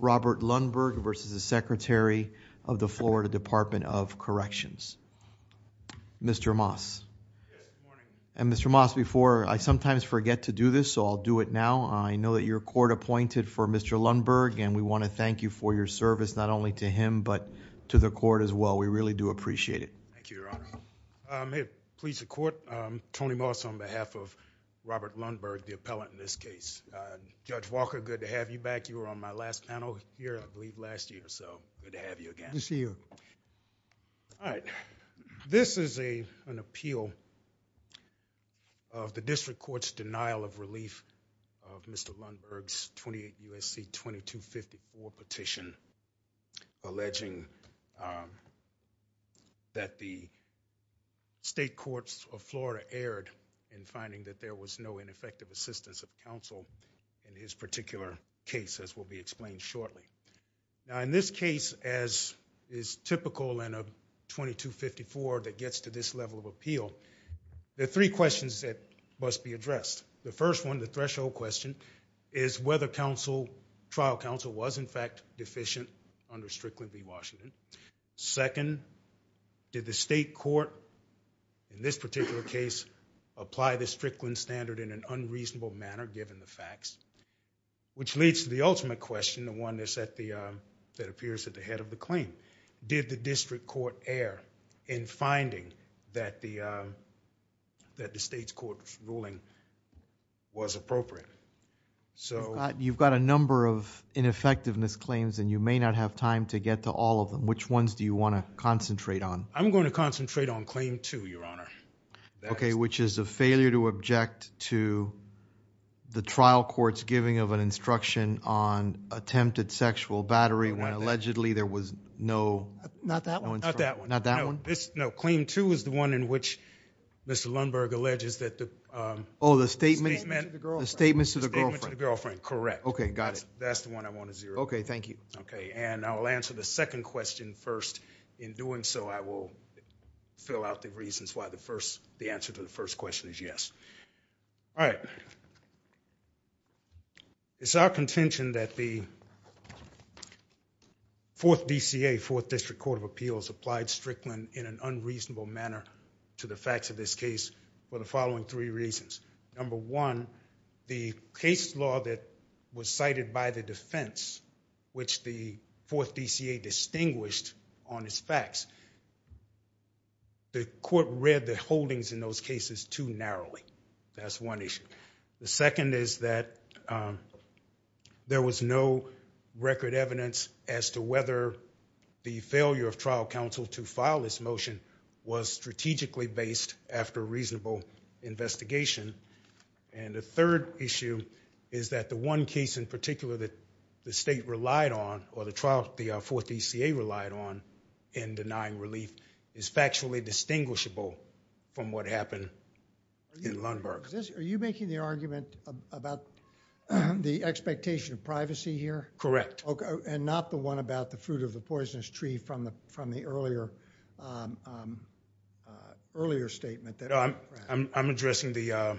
Robert Lundberg v. the Secretary of the Florida Department of Corrections. Mr. Moss. And Mr. Moss before I sometimes forget to do this so I'll do it now. I know that your court appointed for Mr. Lundberg and we want to thank you for your service not only to him but to the court as well. We really do appreciate it. Thank you, Your Honor. May it please the court, Tony Moss on behalf of Robert Lundberg, the appellant in this case. Judge Walker, good to have you back. You were on my last panel here I believe last year so good to have you again. Good to see you. All right. This is a an appeal of the district court's denial of relief of Mr. Lundberg's 28 U.S.C. 2254 petition alleging that the state courts of assistance of counsel in his particular case as will be explained shortly. Now in this case as is typical in a 2254 that gets to this level of appeal, there are three questions that must be addressed. The first one, the threshold question, is whether trial counsel was in fact deficient under Strickland v. Washington. Second, did the state court in this particular case apply the claim in an unreasonable manner given the facts? Which leads to the ultimate question, the one that appears at the head of the claim. Did the district court err in finding that the state's court's ruling was appropriate? You've got a number of ineffectiveness claims and you may not have time to get to all of them. Which ones do you want to concentrate on? I'm going to concentrate on claim two, Your Honor. Okay, which is a failure to object to the trial court's giving of an instruction on attempted sexual battery when allegedly there was no... Not that one. No, claim two is the one in which Mr. Lundberg alleges that the... Oh, the statement to the girlfriend. Correct. Okay, got it. That's the one I want to zero in on. Okay, thank you. Okay, and I'll answer the second question first. In doing so, I will fill out the reasons why the answer to the first question is yes. All right. It's our contention that the 4th DCA, 4th District Court of Appeals, applied Strickland in an unreasonable manner to the facts of this case for the following three reasons. Number one, the case law that was cited by the defense, which the 4th DCA distinguished on its facts. The court read the holdings in those cases too narrowly. That's one issue. The second is that there was no record evidence as to whether the failure of trial counsel to file this motion was strategically based after reasonable investigation. And the third issue is that the one case in particular that the state relied on or the trial the 4th DCA relied on in denying relief is factually distinguishable from what happened in Lundberg. Are you making the argument about the expectation of privacy here? Correct. Okay, and not the one about the fruit of the poisonous tree from the earlier statement? No, I'm addressing the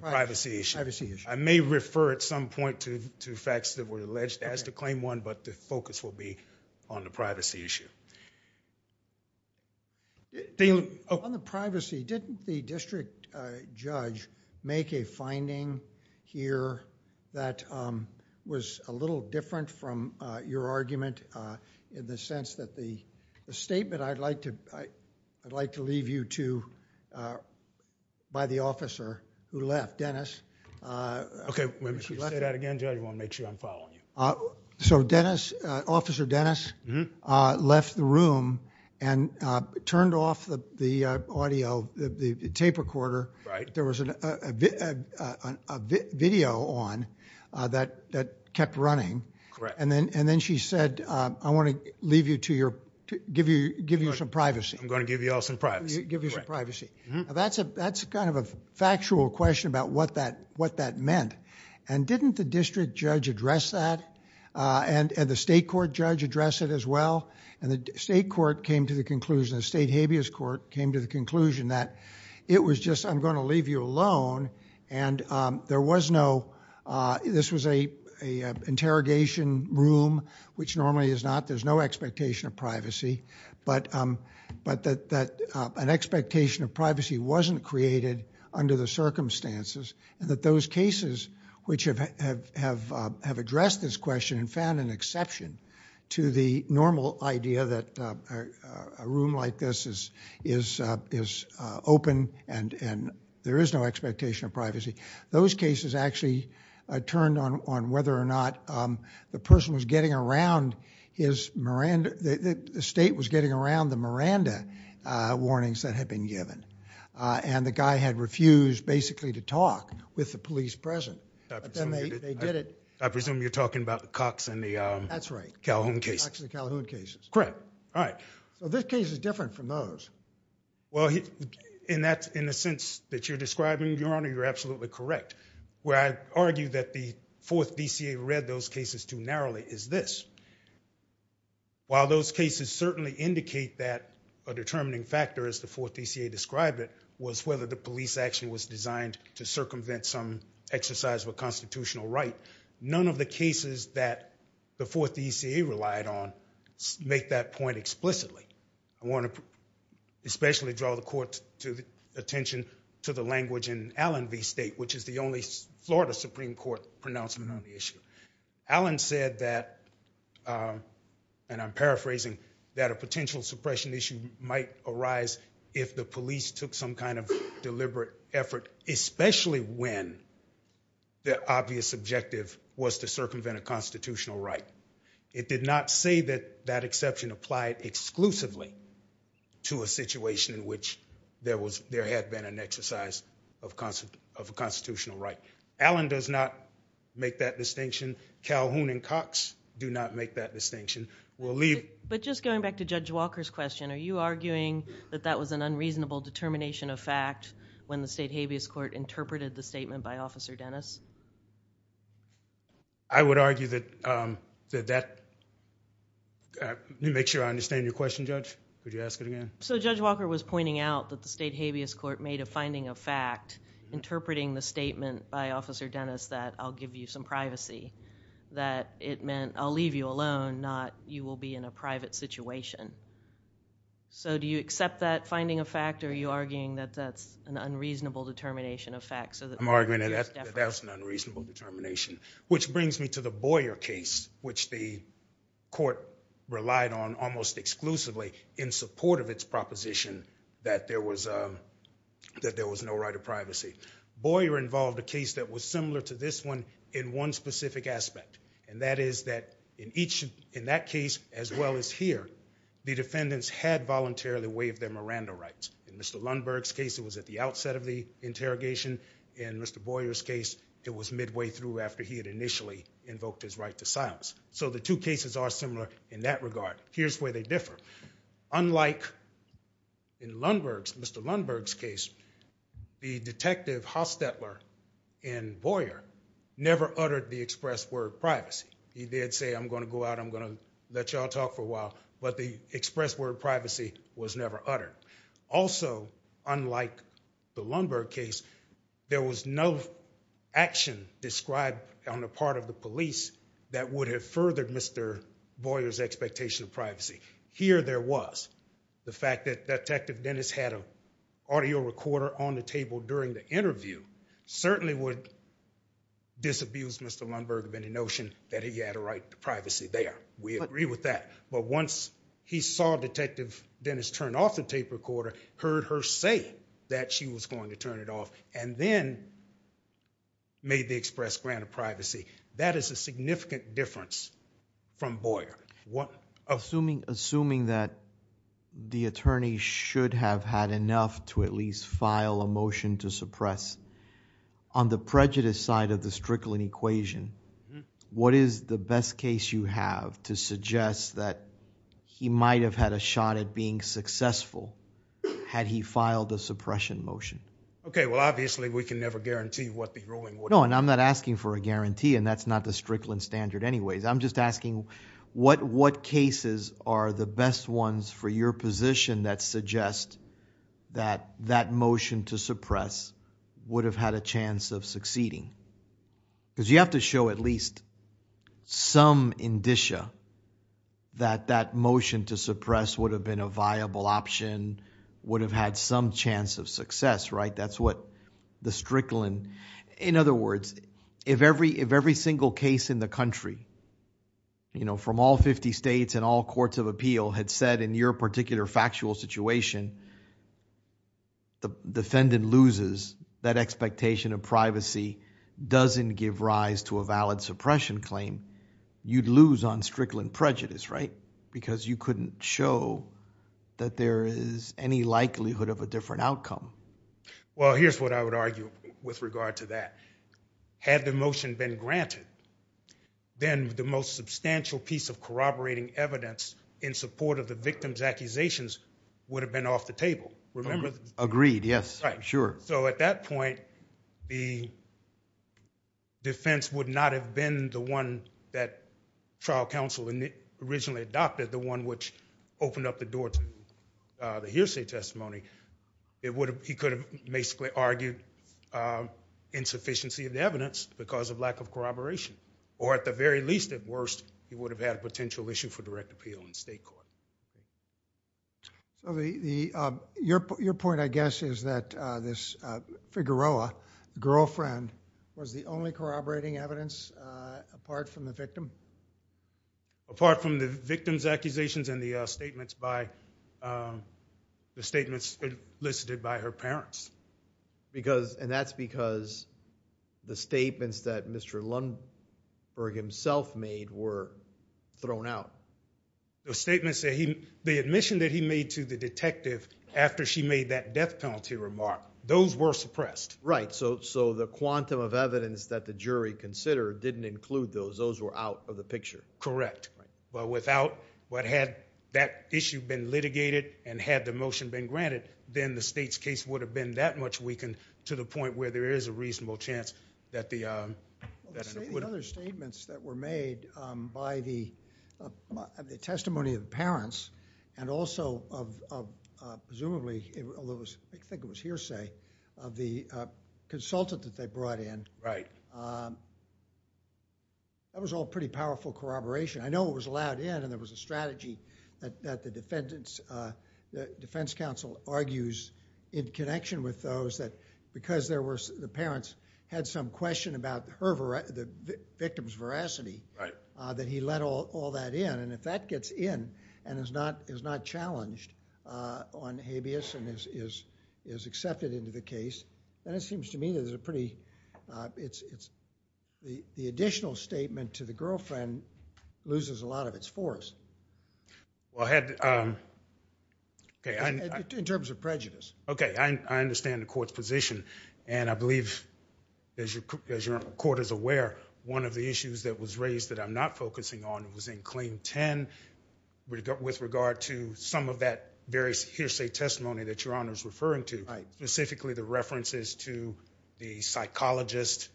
privacy issue. I may refer at some point to facts that were alleged as to Claim 1, but the focus will be on the privacy issue. On the privacy, didn't the district judge make a finding here that was a little different from your argument in the sense that the statement I'd like to leave you to, by the officer who left, Dennis. Okay, say that again, I want to make sure I'm following you. So Dennis, Officer Dennis, left the room and turned off the audio, the tape recorder. Right. There was a video on that kept running. Correct. And then she said, I want to leave you to your, give you some privacy. I'm going to give you all some privacy. Give you some privacy. That's a kind of a factual question about what that meant, and didn't the district judge address that, and the state court judge address it as well, and the state court came to the conclusion, the state habeas court came to the conclusion that it was just, I'm going to leave you alone, and there was no, this was a interrogation room, which normally is not, there's no expectation of privacy, but that an expectation of privacy wasn't created under the circumstances, and that those cases which have addressed this question and found an exception to the normal idea that a room like this is open and there is no expectation of privacy, those cases actually turned on whether or not the person was getting around his, the state was getting around the warnings that had been given, and the guy had refused basically to talk with the police present, but then they did it. I presume you're talking about the Cox and the Calhoun cases. That's right, Cox and the Calhoun cases. Correct. All right, so this case is different from those. Well, in that, in a sense that you're describing, your honor, you're absolutely correct. Where I argue that the fourth DCA read those determining factors, the fourth DCA described it, was whether the police action was designed to circumvent some exercise of a constitutional right. None of the cases that the fourth DCA relied on make that point explicitly. I want to especially draw the court's attention to the language in Allen v. State, which is the only Florida Supreme Court pronouncement on the issue. Allen said that, and I'm paraphrasing, that a potential suppression issue might arise if the police took some kind of deliberate effort, especially when the obvious objective was to circumvent a constitutional right. It did not say that that exception applied exclusively to a situation in which there was, there had been an exercise of a constitutional right. Allen does not make that distinction. We'll leave... But just going back to Judge Walker's question, are you arguing that that was an unreasonable determination of fact when the State Habeas Court interpreted the statement by Officer Dennis? I would argue that that... Let me make sure I understand your question, judge. Would you ask it again? So Judge Walker was pointing out that the State Habeas Court made a statement, I'll leave you alone, not you will be in a private situation. So do you accept that finding a fact, or are you arguing that that's an unreasonable determination of fact so that... I'm arguing that that's an unreasonable determination, which brings me to the Boyer case, which the court relied on almost exclusively in support of its proposition that there was a, that there was no right of privacy. Boyer involved a case that was similar to this one in one specific aspect, and that is that in each, in that case, as well as here, the defendants had voluntarily waived their Miranda rights. In Mr. Lundberg's case, it was at the outset of the interrogation. In Mr. Boyer's case, it was midway through after he had initially invoked his right to silence. So the two cases are similar in that regard. Here's where they differ. Unlike in Lundberg's, Mr. Hostetler and Boyer never uttered the express word privacy. He did say, I'm going to go out, I'm going to let y'all talk for a while, but the express word privacy was never uttered. Also, unlike the Lundberg case, there was no action described on the part of the police that would have furthered Mr. Boyer's expectation of privacy. Here there was. The fact that Detective Dennis had an audio recorder on the table during the interview certainly would disabuse Mr. Lundberg of any notion that he had a right to privacy there. We agree with that. But once he saw Detective Dennis turn off the tape recorder, heard her say that she was going to turn it off, and then made the express grant of privacy, that is a significant difference from Boyer. Assuming that the attorneys should have had enough to at least file a motion to suppress, on the prejudice side of the Strickland equation, what is the best case you have to suggest that he might have had a shot at being successful had he filed a suppression motion? Okay, well obviously we can never guarantee what the ruling would... No, and I'm not asking for a guarantee, and that's not the best ones for your position that suggest that that motion to suppress would have had a chance of succeeding. Because you have to show at least some indicia that that motion to suppress would have been a viable option, would have had some chance of success, right? That's what the Strickland... In other words, if every single case in the country, you know, from all fifty states and all courts of appeal, had said in your particular factual situation, the defendant loses that expectation of privacy, doesn't give rise to a valid suppression claim, you'd lose on Strickland prejudice, right? Because you couldn't show that there is any likelihood of a different outcome. Well, here's what I would argue with regard to that. Had the motion been granted, then the most substantial piece of corroborating evidence in support of the victim's accusations would have been off the table. Remember? Agreed, yes, sure. So at that point, the defense would not have been the one that trial counsel originally adopted, the one which opened up the door to the hearsay testimony. It would have... He could have basically argued insufficiency of the evidence because of lack of corroboration, or at the very least, at worst, he would have had a potential issue for direct appeal in state court. Your point, I guess, is that this Figueroa girlfriend was the only corroborating evidence apart from the victim? Apart from the victim's accusations and the statements by... the statements elicited by her parents. Because... and that's because the statements that Mr. Lundberg himself made were thrown out. The statements that he... the admission that he made to the detective after she made that death penalty remark, those were suppressed. Right, so the quantum of evidence that the jury considered didn't include those. Those were out of the picture. Correct, but without... what had that issue been litigated and had the motion been granted, then the state's case would have been that much weakened to the point where there is a reasonable chance that the... Other statements that were made by the testimony of the parents and also of presumably, I think it was hearsay, of the consultant that they brought in, that was all pretty powerful corroboration. I know it was allowed in and there was a strategy that the defense counsel argues in connection with those that because there were... the parents had some question about her... the victim's veracity, that he let all that in and if that gets in and is not challenged on habeas and is accepted into the case, then it seems to me there's a pretty... it's... the additional statement to the girlfriend loses a lot of its force. Well, I had... In terms of prejudice. Okay, I understand the court's position and I believe as your court is aware, one of the issues that was raised that I'm not focusing on was in Claim 10 with regard to some of that various hearsay testimony that Your Honor is referring to, specifically the references to the psychologist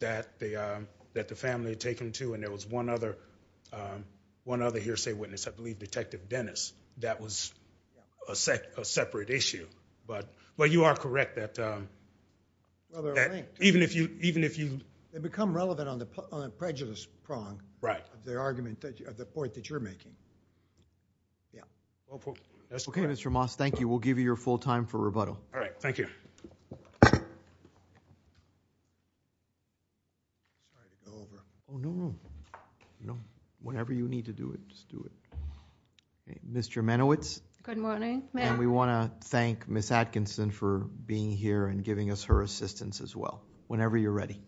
that the family had taken to and there was one other hearsay witness, I believe Detective Dennis, that was a separate issue, but you are correct that even if you... They become relevant on the prejudice prong of the argument, of the point that you're making. Okay, Mr. Moss, thank you. We'll give you your full time for rebuttal. All right, thank you. Whenever you need to do it, just do it. Ms. Jermanowicz. Good morning, ma'am. We want to thank Ms. Atkinson for being here and giving us her assistance as well, whenever you're ready.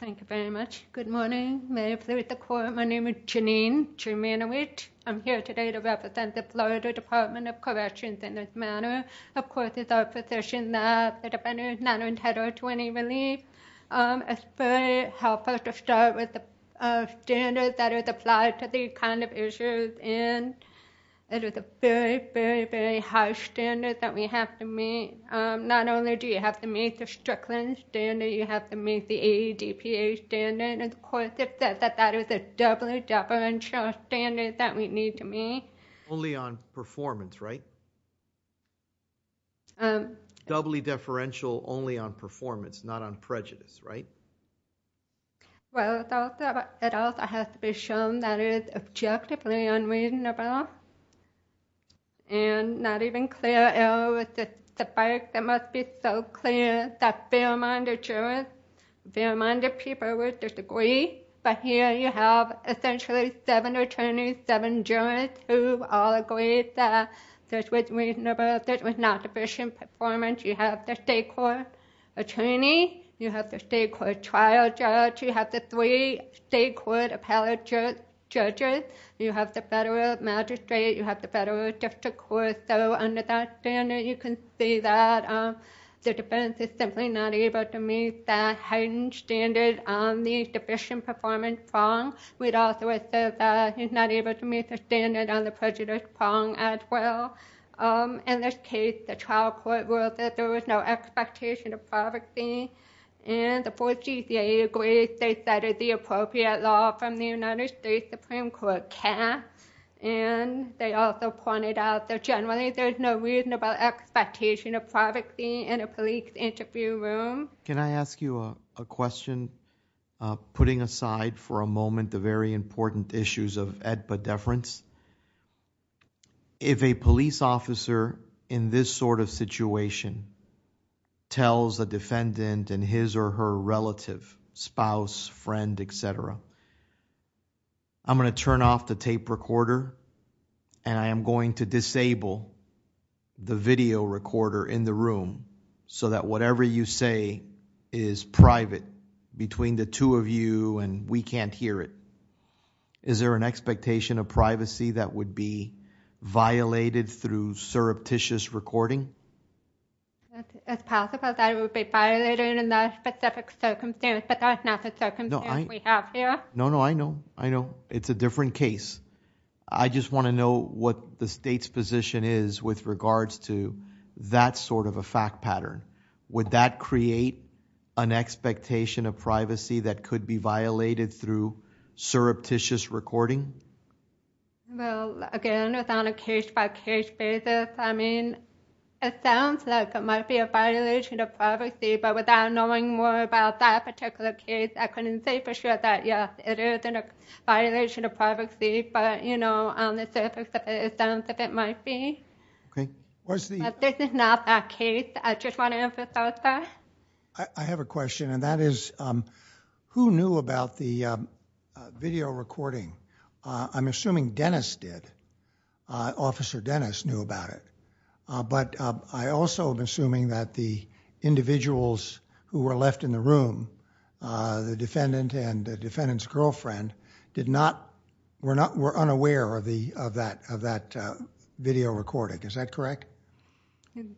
Thank you very much. Good morning. May I please the court, my name is Janine Jermanowicz. I'm here today to represent the Florida Department of Corrections in this matter. Of course, it's our position that the defendant is not entitled to any relief. It's very helpful to start with the standard that is applied to these kind of issues and it is a very, very, very high standard that we have to meet. Not only do you have to meet the Strickland standard, you have to meet the AEDPA standard. Of course, it is a doubly deferential standard that we need to meet. Only on performance, right? Doubly deferential only on performance, not on prejudice, right? Well, it also has to be shown that it is objectively unreasonable and not even clear error with the facts. It must be so clear that fair-minded jurors, fair-minded people would disagree, but here you have essentially seven attorneys, seven jurors who all agree that this was reasonable, this was not sufficient performance. You have the state court attorney, you have the state court trial judge, you have the three state court appellate judges, you have the federal magistrate, you have the federal district court. So under that standard, you can see that the defense is simply not able to meet that heightened standard on the sufficient performance prong. We'd also say that he's not able to meet the standard on the prejudice prong as well. In this case, the trial court ruled that there was no expectation of privacy, and the fourth GCIA agrees they cited the appropriate law from the United States Supreme Court cast, and they also pointed out that generally, there's no reasonable expectation of privacy in a police interview room. Can I ask you a question? Putting aside for a moment the very important issues of EDPA deference, if a police officer in this sort of situation tells a defendant and his or her relative, spouse, friend, etc., I'm going to turn off the tape recorder and I am going to disable the video recorder in the room so that whatever you say is private between the two of you and we can't hear it. Is there an expectation of privacy that would be violated through surreptitious recording? It's possible that it would be violated in that specific circumstance, but that's not the I just want to know what the state's position is with regards to that sort of a fact pattern. Would that create an expectation of privacy that could be violated through surreptitious recording? Well, again, it's on a case-by-case basis. I mean, it sounds like it might be a violation of privacy, but without knowing more about that particular case, I couldn't say for sure that, yes, it is a violation of privacy, but, you know, on the surface it sounds like it might be. But this is not that case. I just want to emphasize that. I have a question, and that is, who knew about the video recording? I'm assuming Dennis did. Officer Dennis knew about it, but I also am assuming that the defendant's girlfriend were unaware of that video recording. Is that correct?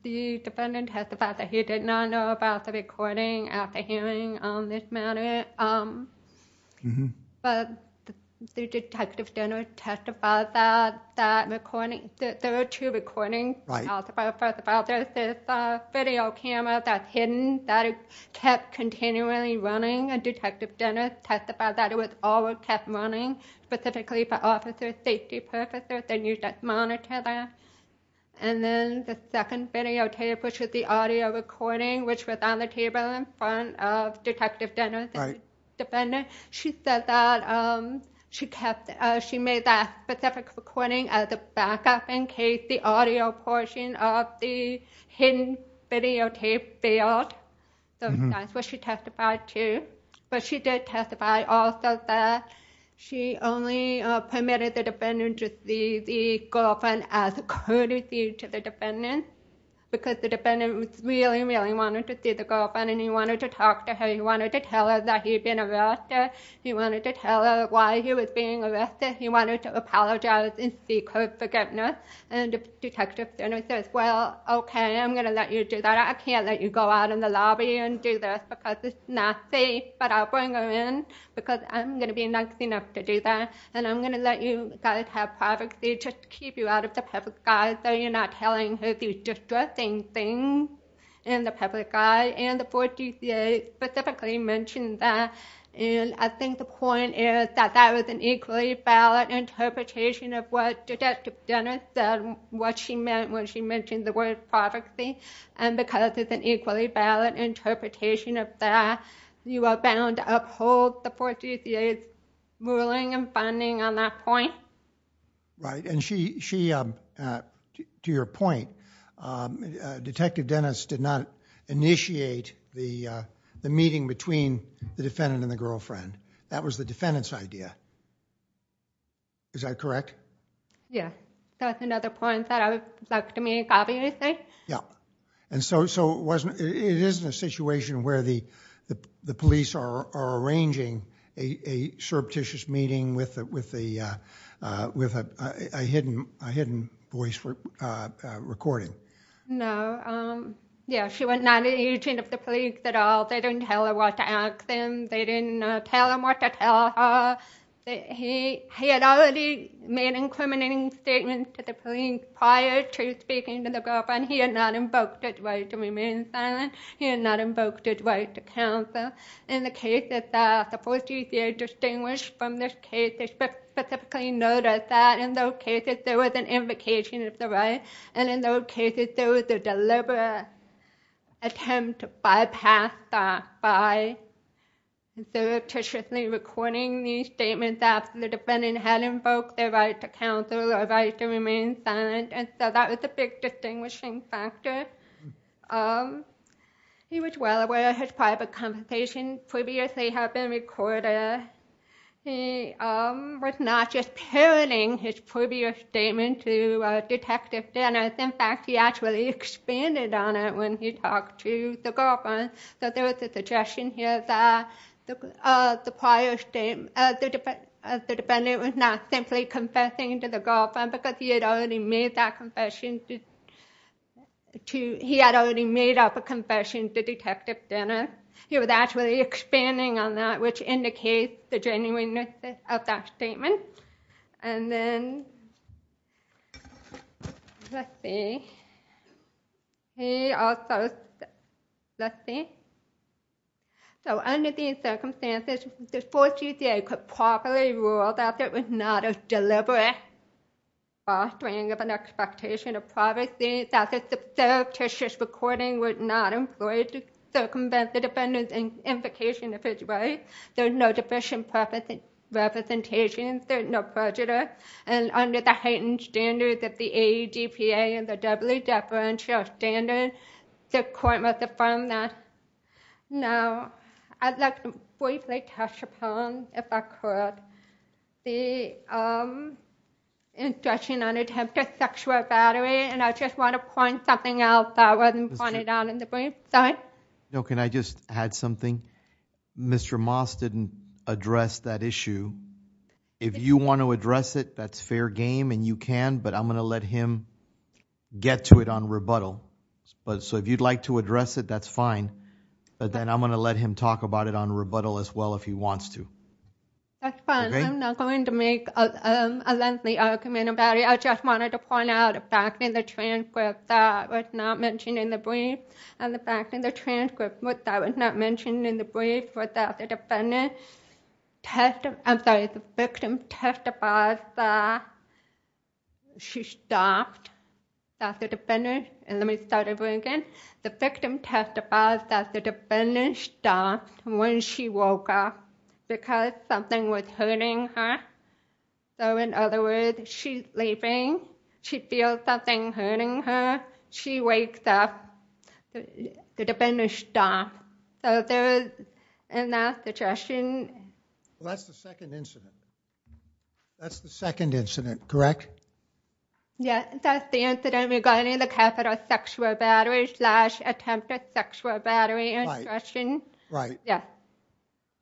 The defendant testified that he did not know about the recording at the hearing on this matter, but Detective Dennis testified that there were two recordings. First of all, there is this video camera that's hidden that kept continually running, and Detective Dennis testified that it was always kept running, specifically for officer safety purposes, and you just monitor that. And then the second videotape, which is the audio recording, which was on the table in front of Detective Dennis, the defendant, she said that she kept, she made that specific recording as a backup in case the audio portion of the hidden videotape failed. So that's what she testified to. But she did testify also that she only permitted the defendant to see the girlfriend as a courtesy to the defendant, because the defendant really, really wanted to see the girlfriend, and he wanted to talk to her. He wanted to tell her that he'd been arrested. He wanted to tell her why he was being arrested. He wanted to apologize and seek her forgiveness. And Detective Dennis says, well, okay, I'm going to let you do that. I can't let you go out in the lobby and do this, because it's not safe, but I'll bring her in, because I'm going to be nice enough to do that, and I'm going to let you guys have privacy, just to keep you out of the public eye, so you're not telling her these distressing things in the public eye. And the 4th DCA specifically mentioned that, and I think the point is that that was an equally valid interpretation of what Detective Dennis said, what she meant when she mentioned the word privacy, and because it's an equally valid interpretation of that, you are bound to uphold the 4th DCA's ruling and funding on that point. Right, and she, to your point, Detective Dennis did not initiate the meeting between the defendant and the girlfriend. That was the defendant's idea. Is that correct? Yes. That's another point that I would like to make, obviously. Yeah. And so it isn't a situation where the police are arranging a surreptitious meeting with a hidden voice recording. No. Yeah, she was not an agent of the police at all. They didn't tell her what to ask them. They didn't tell them what to tell her. He had already made incriminating statements to the police prior to speaking to the girlfriend. He had not invoked his right to remain silent. He had not invoked his right to counsel. In the cases that the 4th DCA distinguished from this case, they specifically noted that in those cases there was an invocation of the right, and in those cases there was a deliberate attempt to bypass that by surreptitiously recording these statements after the defendant had invoked their right to counsel or right to remain silent, and so that was a big distinguishing factor. He was well aware of his private conversations previously had been recorded. He was not just making a statement to Detective Dennis. In fact, he actually expanded on it when he talked to the girlfriend. There was a suggestion here that the defendant was not simply confessing to the girlfriend because he had already made that confession to Detective Dennis. He was actually expanding on that, which indicates the genuineness of that statement. Let's see. Under these circumstances, the 4th DCA could properly rule that there was not a deliberate fostering of an expectation of privacy, that the surreptitious recording was not employed to circumvent the defendant's invocation of his right. There is no deficient representation, there is no prejudice, and under the heightened standards of the AEDPA and the W-deferential standard, the court must affirm that. Now, I'd like to briefly touch upon, if I could, the instruction on attempted sexual battery, and I just want to point something out that wasn't pointed out in the brief. Sorry? No, can I just add something? Mr. Moss didn't address that issue. If you want to address it, that's fair game, and you can, but I'm going to let him get to it on rebuttal. So if you'd like to address it, that's fine, but then I'm going to let him talk about it on rebuttal as well if he wants to. That's fine. I'm not going to make a lengthy argument about it. I just wanted to point out the fact in the transcript that was not mentioned in the brief, and the fact in the transcript that was not mentioned in the brief was that the victim testified that she stopped that the defendant, and let me start over again, the victim testified that the defendant stopped when she woke up because something was hurting her. So in other words, she's sleeping, she feels something hurting her, she wakes up, the defendant stops. So in that situation... Well, that's the second incident. That's the second incident, correct? Yes, that's the incident regarding the catheter sexual battery slash attempted sexual battery instruction. Right. Yes.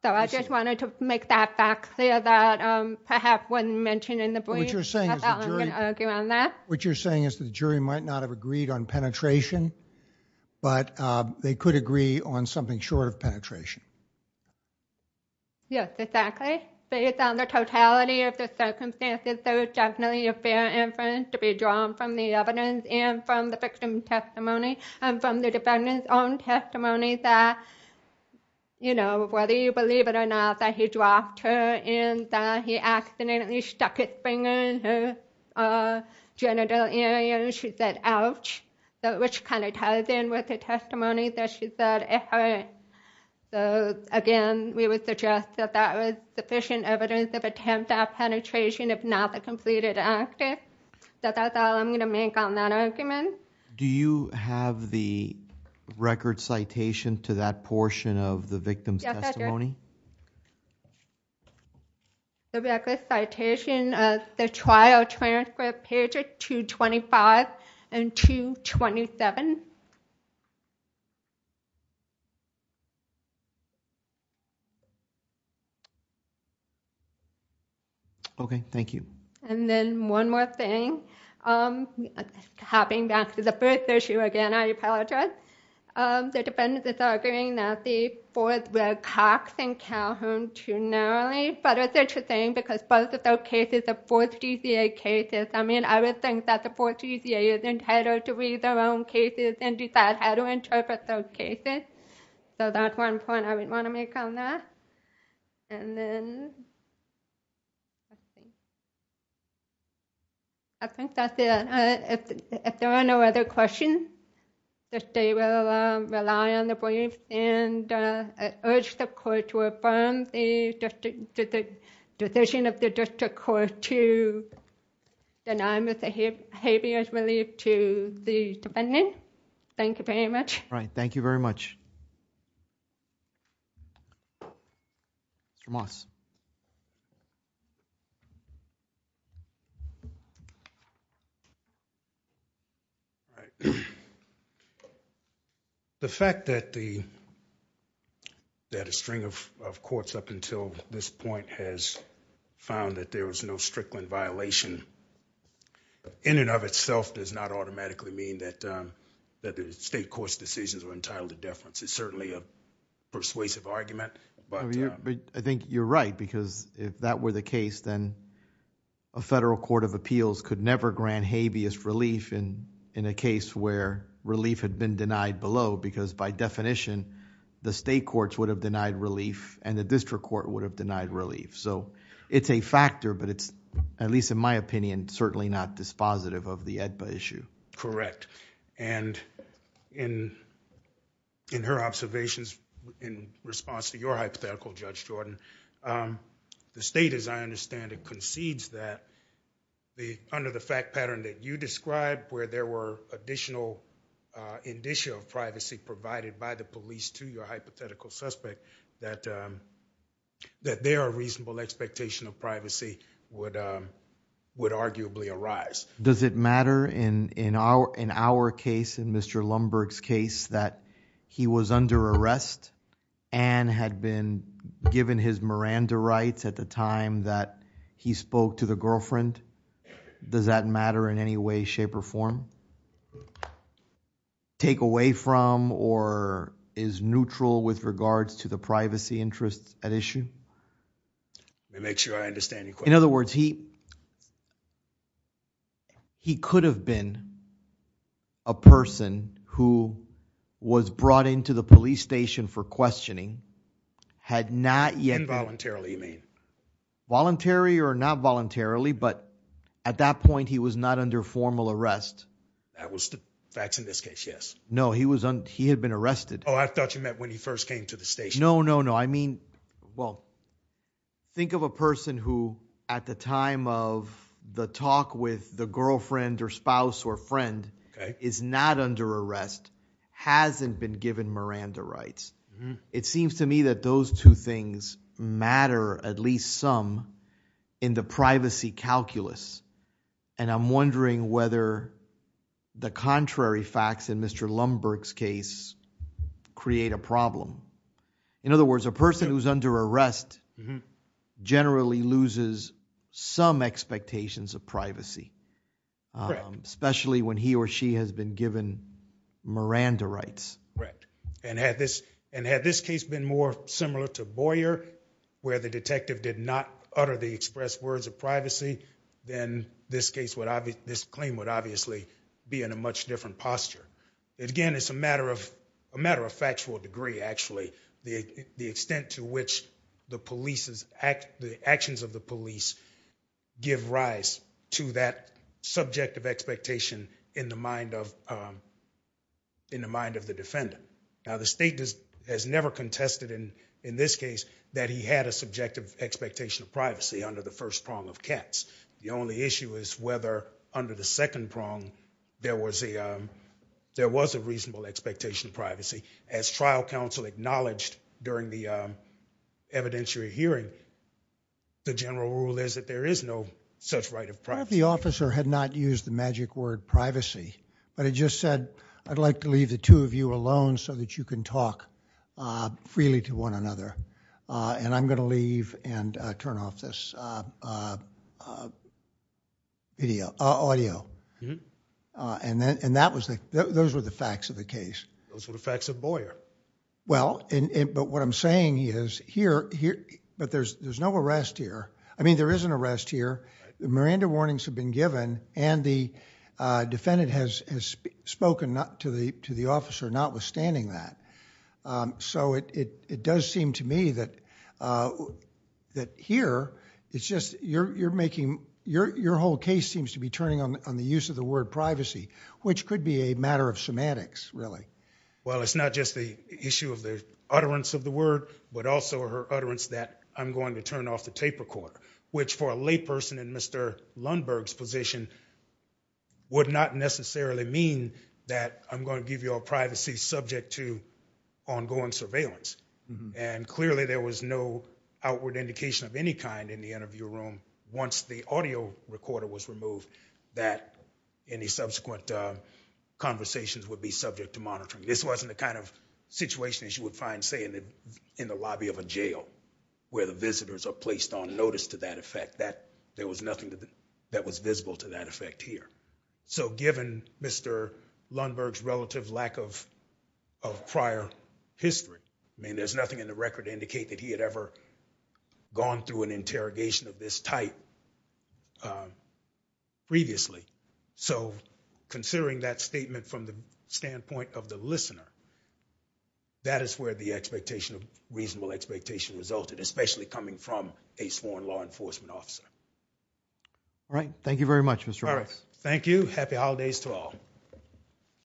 So I just wanted to make that fact clear that perhaps wasn't mentioned in the brief because I thought I was going to argue on that. What you're saying is the jury might not have agreed on penetration, but they could agree on something short of penetration. Yes, exactly. Based on the totality of the circumstances, there is definitely a fair inference to be drawn from the evidence and from the victim's testimony, and from the defendant's own testimony that, you know, whether you believe it or not, that he dropped her and that he accidentally stuck his finger in her genital area and she said, ouch, which kind of ties in with the testimony that she said it hurt. So again, we would suggest that that was sufficient evidence of attempt at penetration if not the completed actor. So that's all I'm going to make on that argument. Do you have the record citation to that portion of the victim's testimony? The record citation, the trial transcript, pages 225 and 227. Okay. Thank you. And then one more thing, hopping back to the first issue again, I apologize. The defendants are arguing that the fourth Red Cox and Calhoun too narrowly, but it's interesting because both of those cases are 4th DCA cases. I mean, I would think that the 4th DCA is entitled to read their own cases and decide how to interpret those cases. So that's one point I would want to make on that. And then, I think that's it. If there are no other questions, the state will rely on the briefs and urge the court to affirm the decision of the district court to deny misbehavior to the defendant. Thank you very much. All right. Thank you very much. Mr. Moss. The fact that a string of courts up until this point has found that there was no Strickland violation in and of itself does not automatically mean that the state court's decisions were entitled to deference. It's certainly a persuasive argument, but... I think you're right because if that were the case, then a federal court of appeals could never grant habeas relief in a case where relief had been denied below because by definition, the state courts would have denied relief and the district court would have denied relief. So it's a factor, but it's, at least in my opinion, certainly not dispositive of the AEDPA issue. Correct. And in her observations in response to your hypothetical, Judge Jordan, the state, as I understand it, concedes that under the fact pattern that you described where there were additional indicia of privacy provided by the police to your hypothetical suspect, that there are reasonable expectation of privacy would arguably arise. Does it matter in our case, in Mr. Lumberg's case, that he was under arrest and had been given his Miranda rights at the time that he spoke to the girlfriend? Does that matter in any way, shape, or form? Take away from or is neutral with regards to the privacy interests at issue? Let me make sure I understand your question. In other words, he could have been a person who was brought into the police station for questioning, had not yet been... Involuntarily, you mean. Voluntarily or not voluntarily, but at that point he was not under formal arrest. That was the facts in this case, yes. No, he had been arrested. Oh, I thought you meant when he first came to the station. No, no, no. I mean, well, think of a person who at the time of the talk with the girlfriend or spouse or friend is not under arrest, hasn't been given Miranda rights. It seems to me that those two things matter at least some in the privacy calculus. I'm wondering whether the contrary facts in Mr. Lumberg's case create a problem. In other words, a person who's under arrest generally loses some expectations of privacy, especially when he or she has been given Miranda rights. Correct. Had this case been more similar to Boyer, where the detective did not utter the express words of privacy, then this claim would obviously be in a much different posture. Again, it's a matter of factual degree, actually, the extent to which the actions of the police give rise to that subjective expectation in the mind of the defendant. Now, the state has never contested in this case that he had a subjective expectation of privacy under the first prong of Katz. The only issue is whether under the second prong there was a reasonable expectation of privacy. As trial counsel acknowledged during the evidentiary hearing, the general rule is that there is no such right of privacy. The officer had not used the magic word privacy, but he just said, I'd like to leave the two of you alone so that you can talk freely to one another. I'm going to leave and turn off this audio. Those were the facts of the case. Those were the facts of Boyer. Well, but what I'm saying is, but there's no arrest here. I mean, there is an arrest here. Miranda warnings have been given, and the defendant has spoken to the officer notwithstanding that. It does seem to me that here, it's just you're making... your whole case seems to be turning on the use of the word privacy, which could be a matter of semantics, really. Well, it's not just the issue of the utterance of the word, but also her utterance that I'm going to turn off the tape recorder, which for a layperson in Mr. Lundberg's position would not necessarily mean that I'm going to give you all privacy subject to ongoing surveillance. Clearly, there was no outward indication of any kind in the interview room once the audio recorder was removed that any subsequent conversations would be subject to monitoring. This wasn't the kind of situation, as you would find, say, in the lobby of a jail, where the visitors are placed on notice to that effect. There was nothing that was visible to that effect here. So given Mr. Lundberg's relative lack of prior history, I mean, there's nothing in the record to indicate that he had ever gone through an interrogation of this type previously. So considering that statement from the standpoint of the listener, that is where the reasonable expectation resulted, especially coming from a sworn law enforcement officer. All right. Thank you very much, Mr. Roberts. Thank you. Happy holidays to all.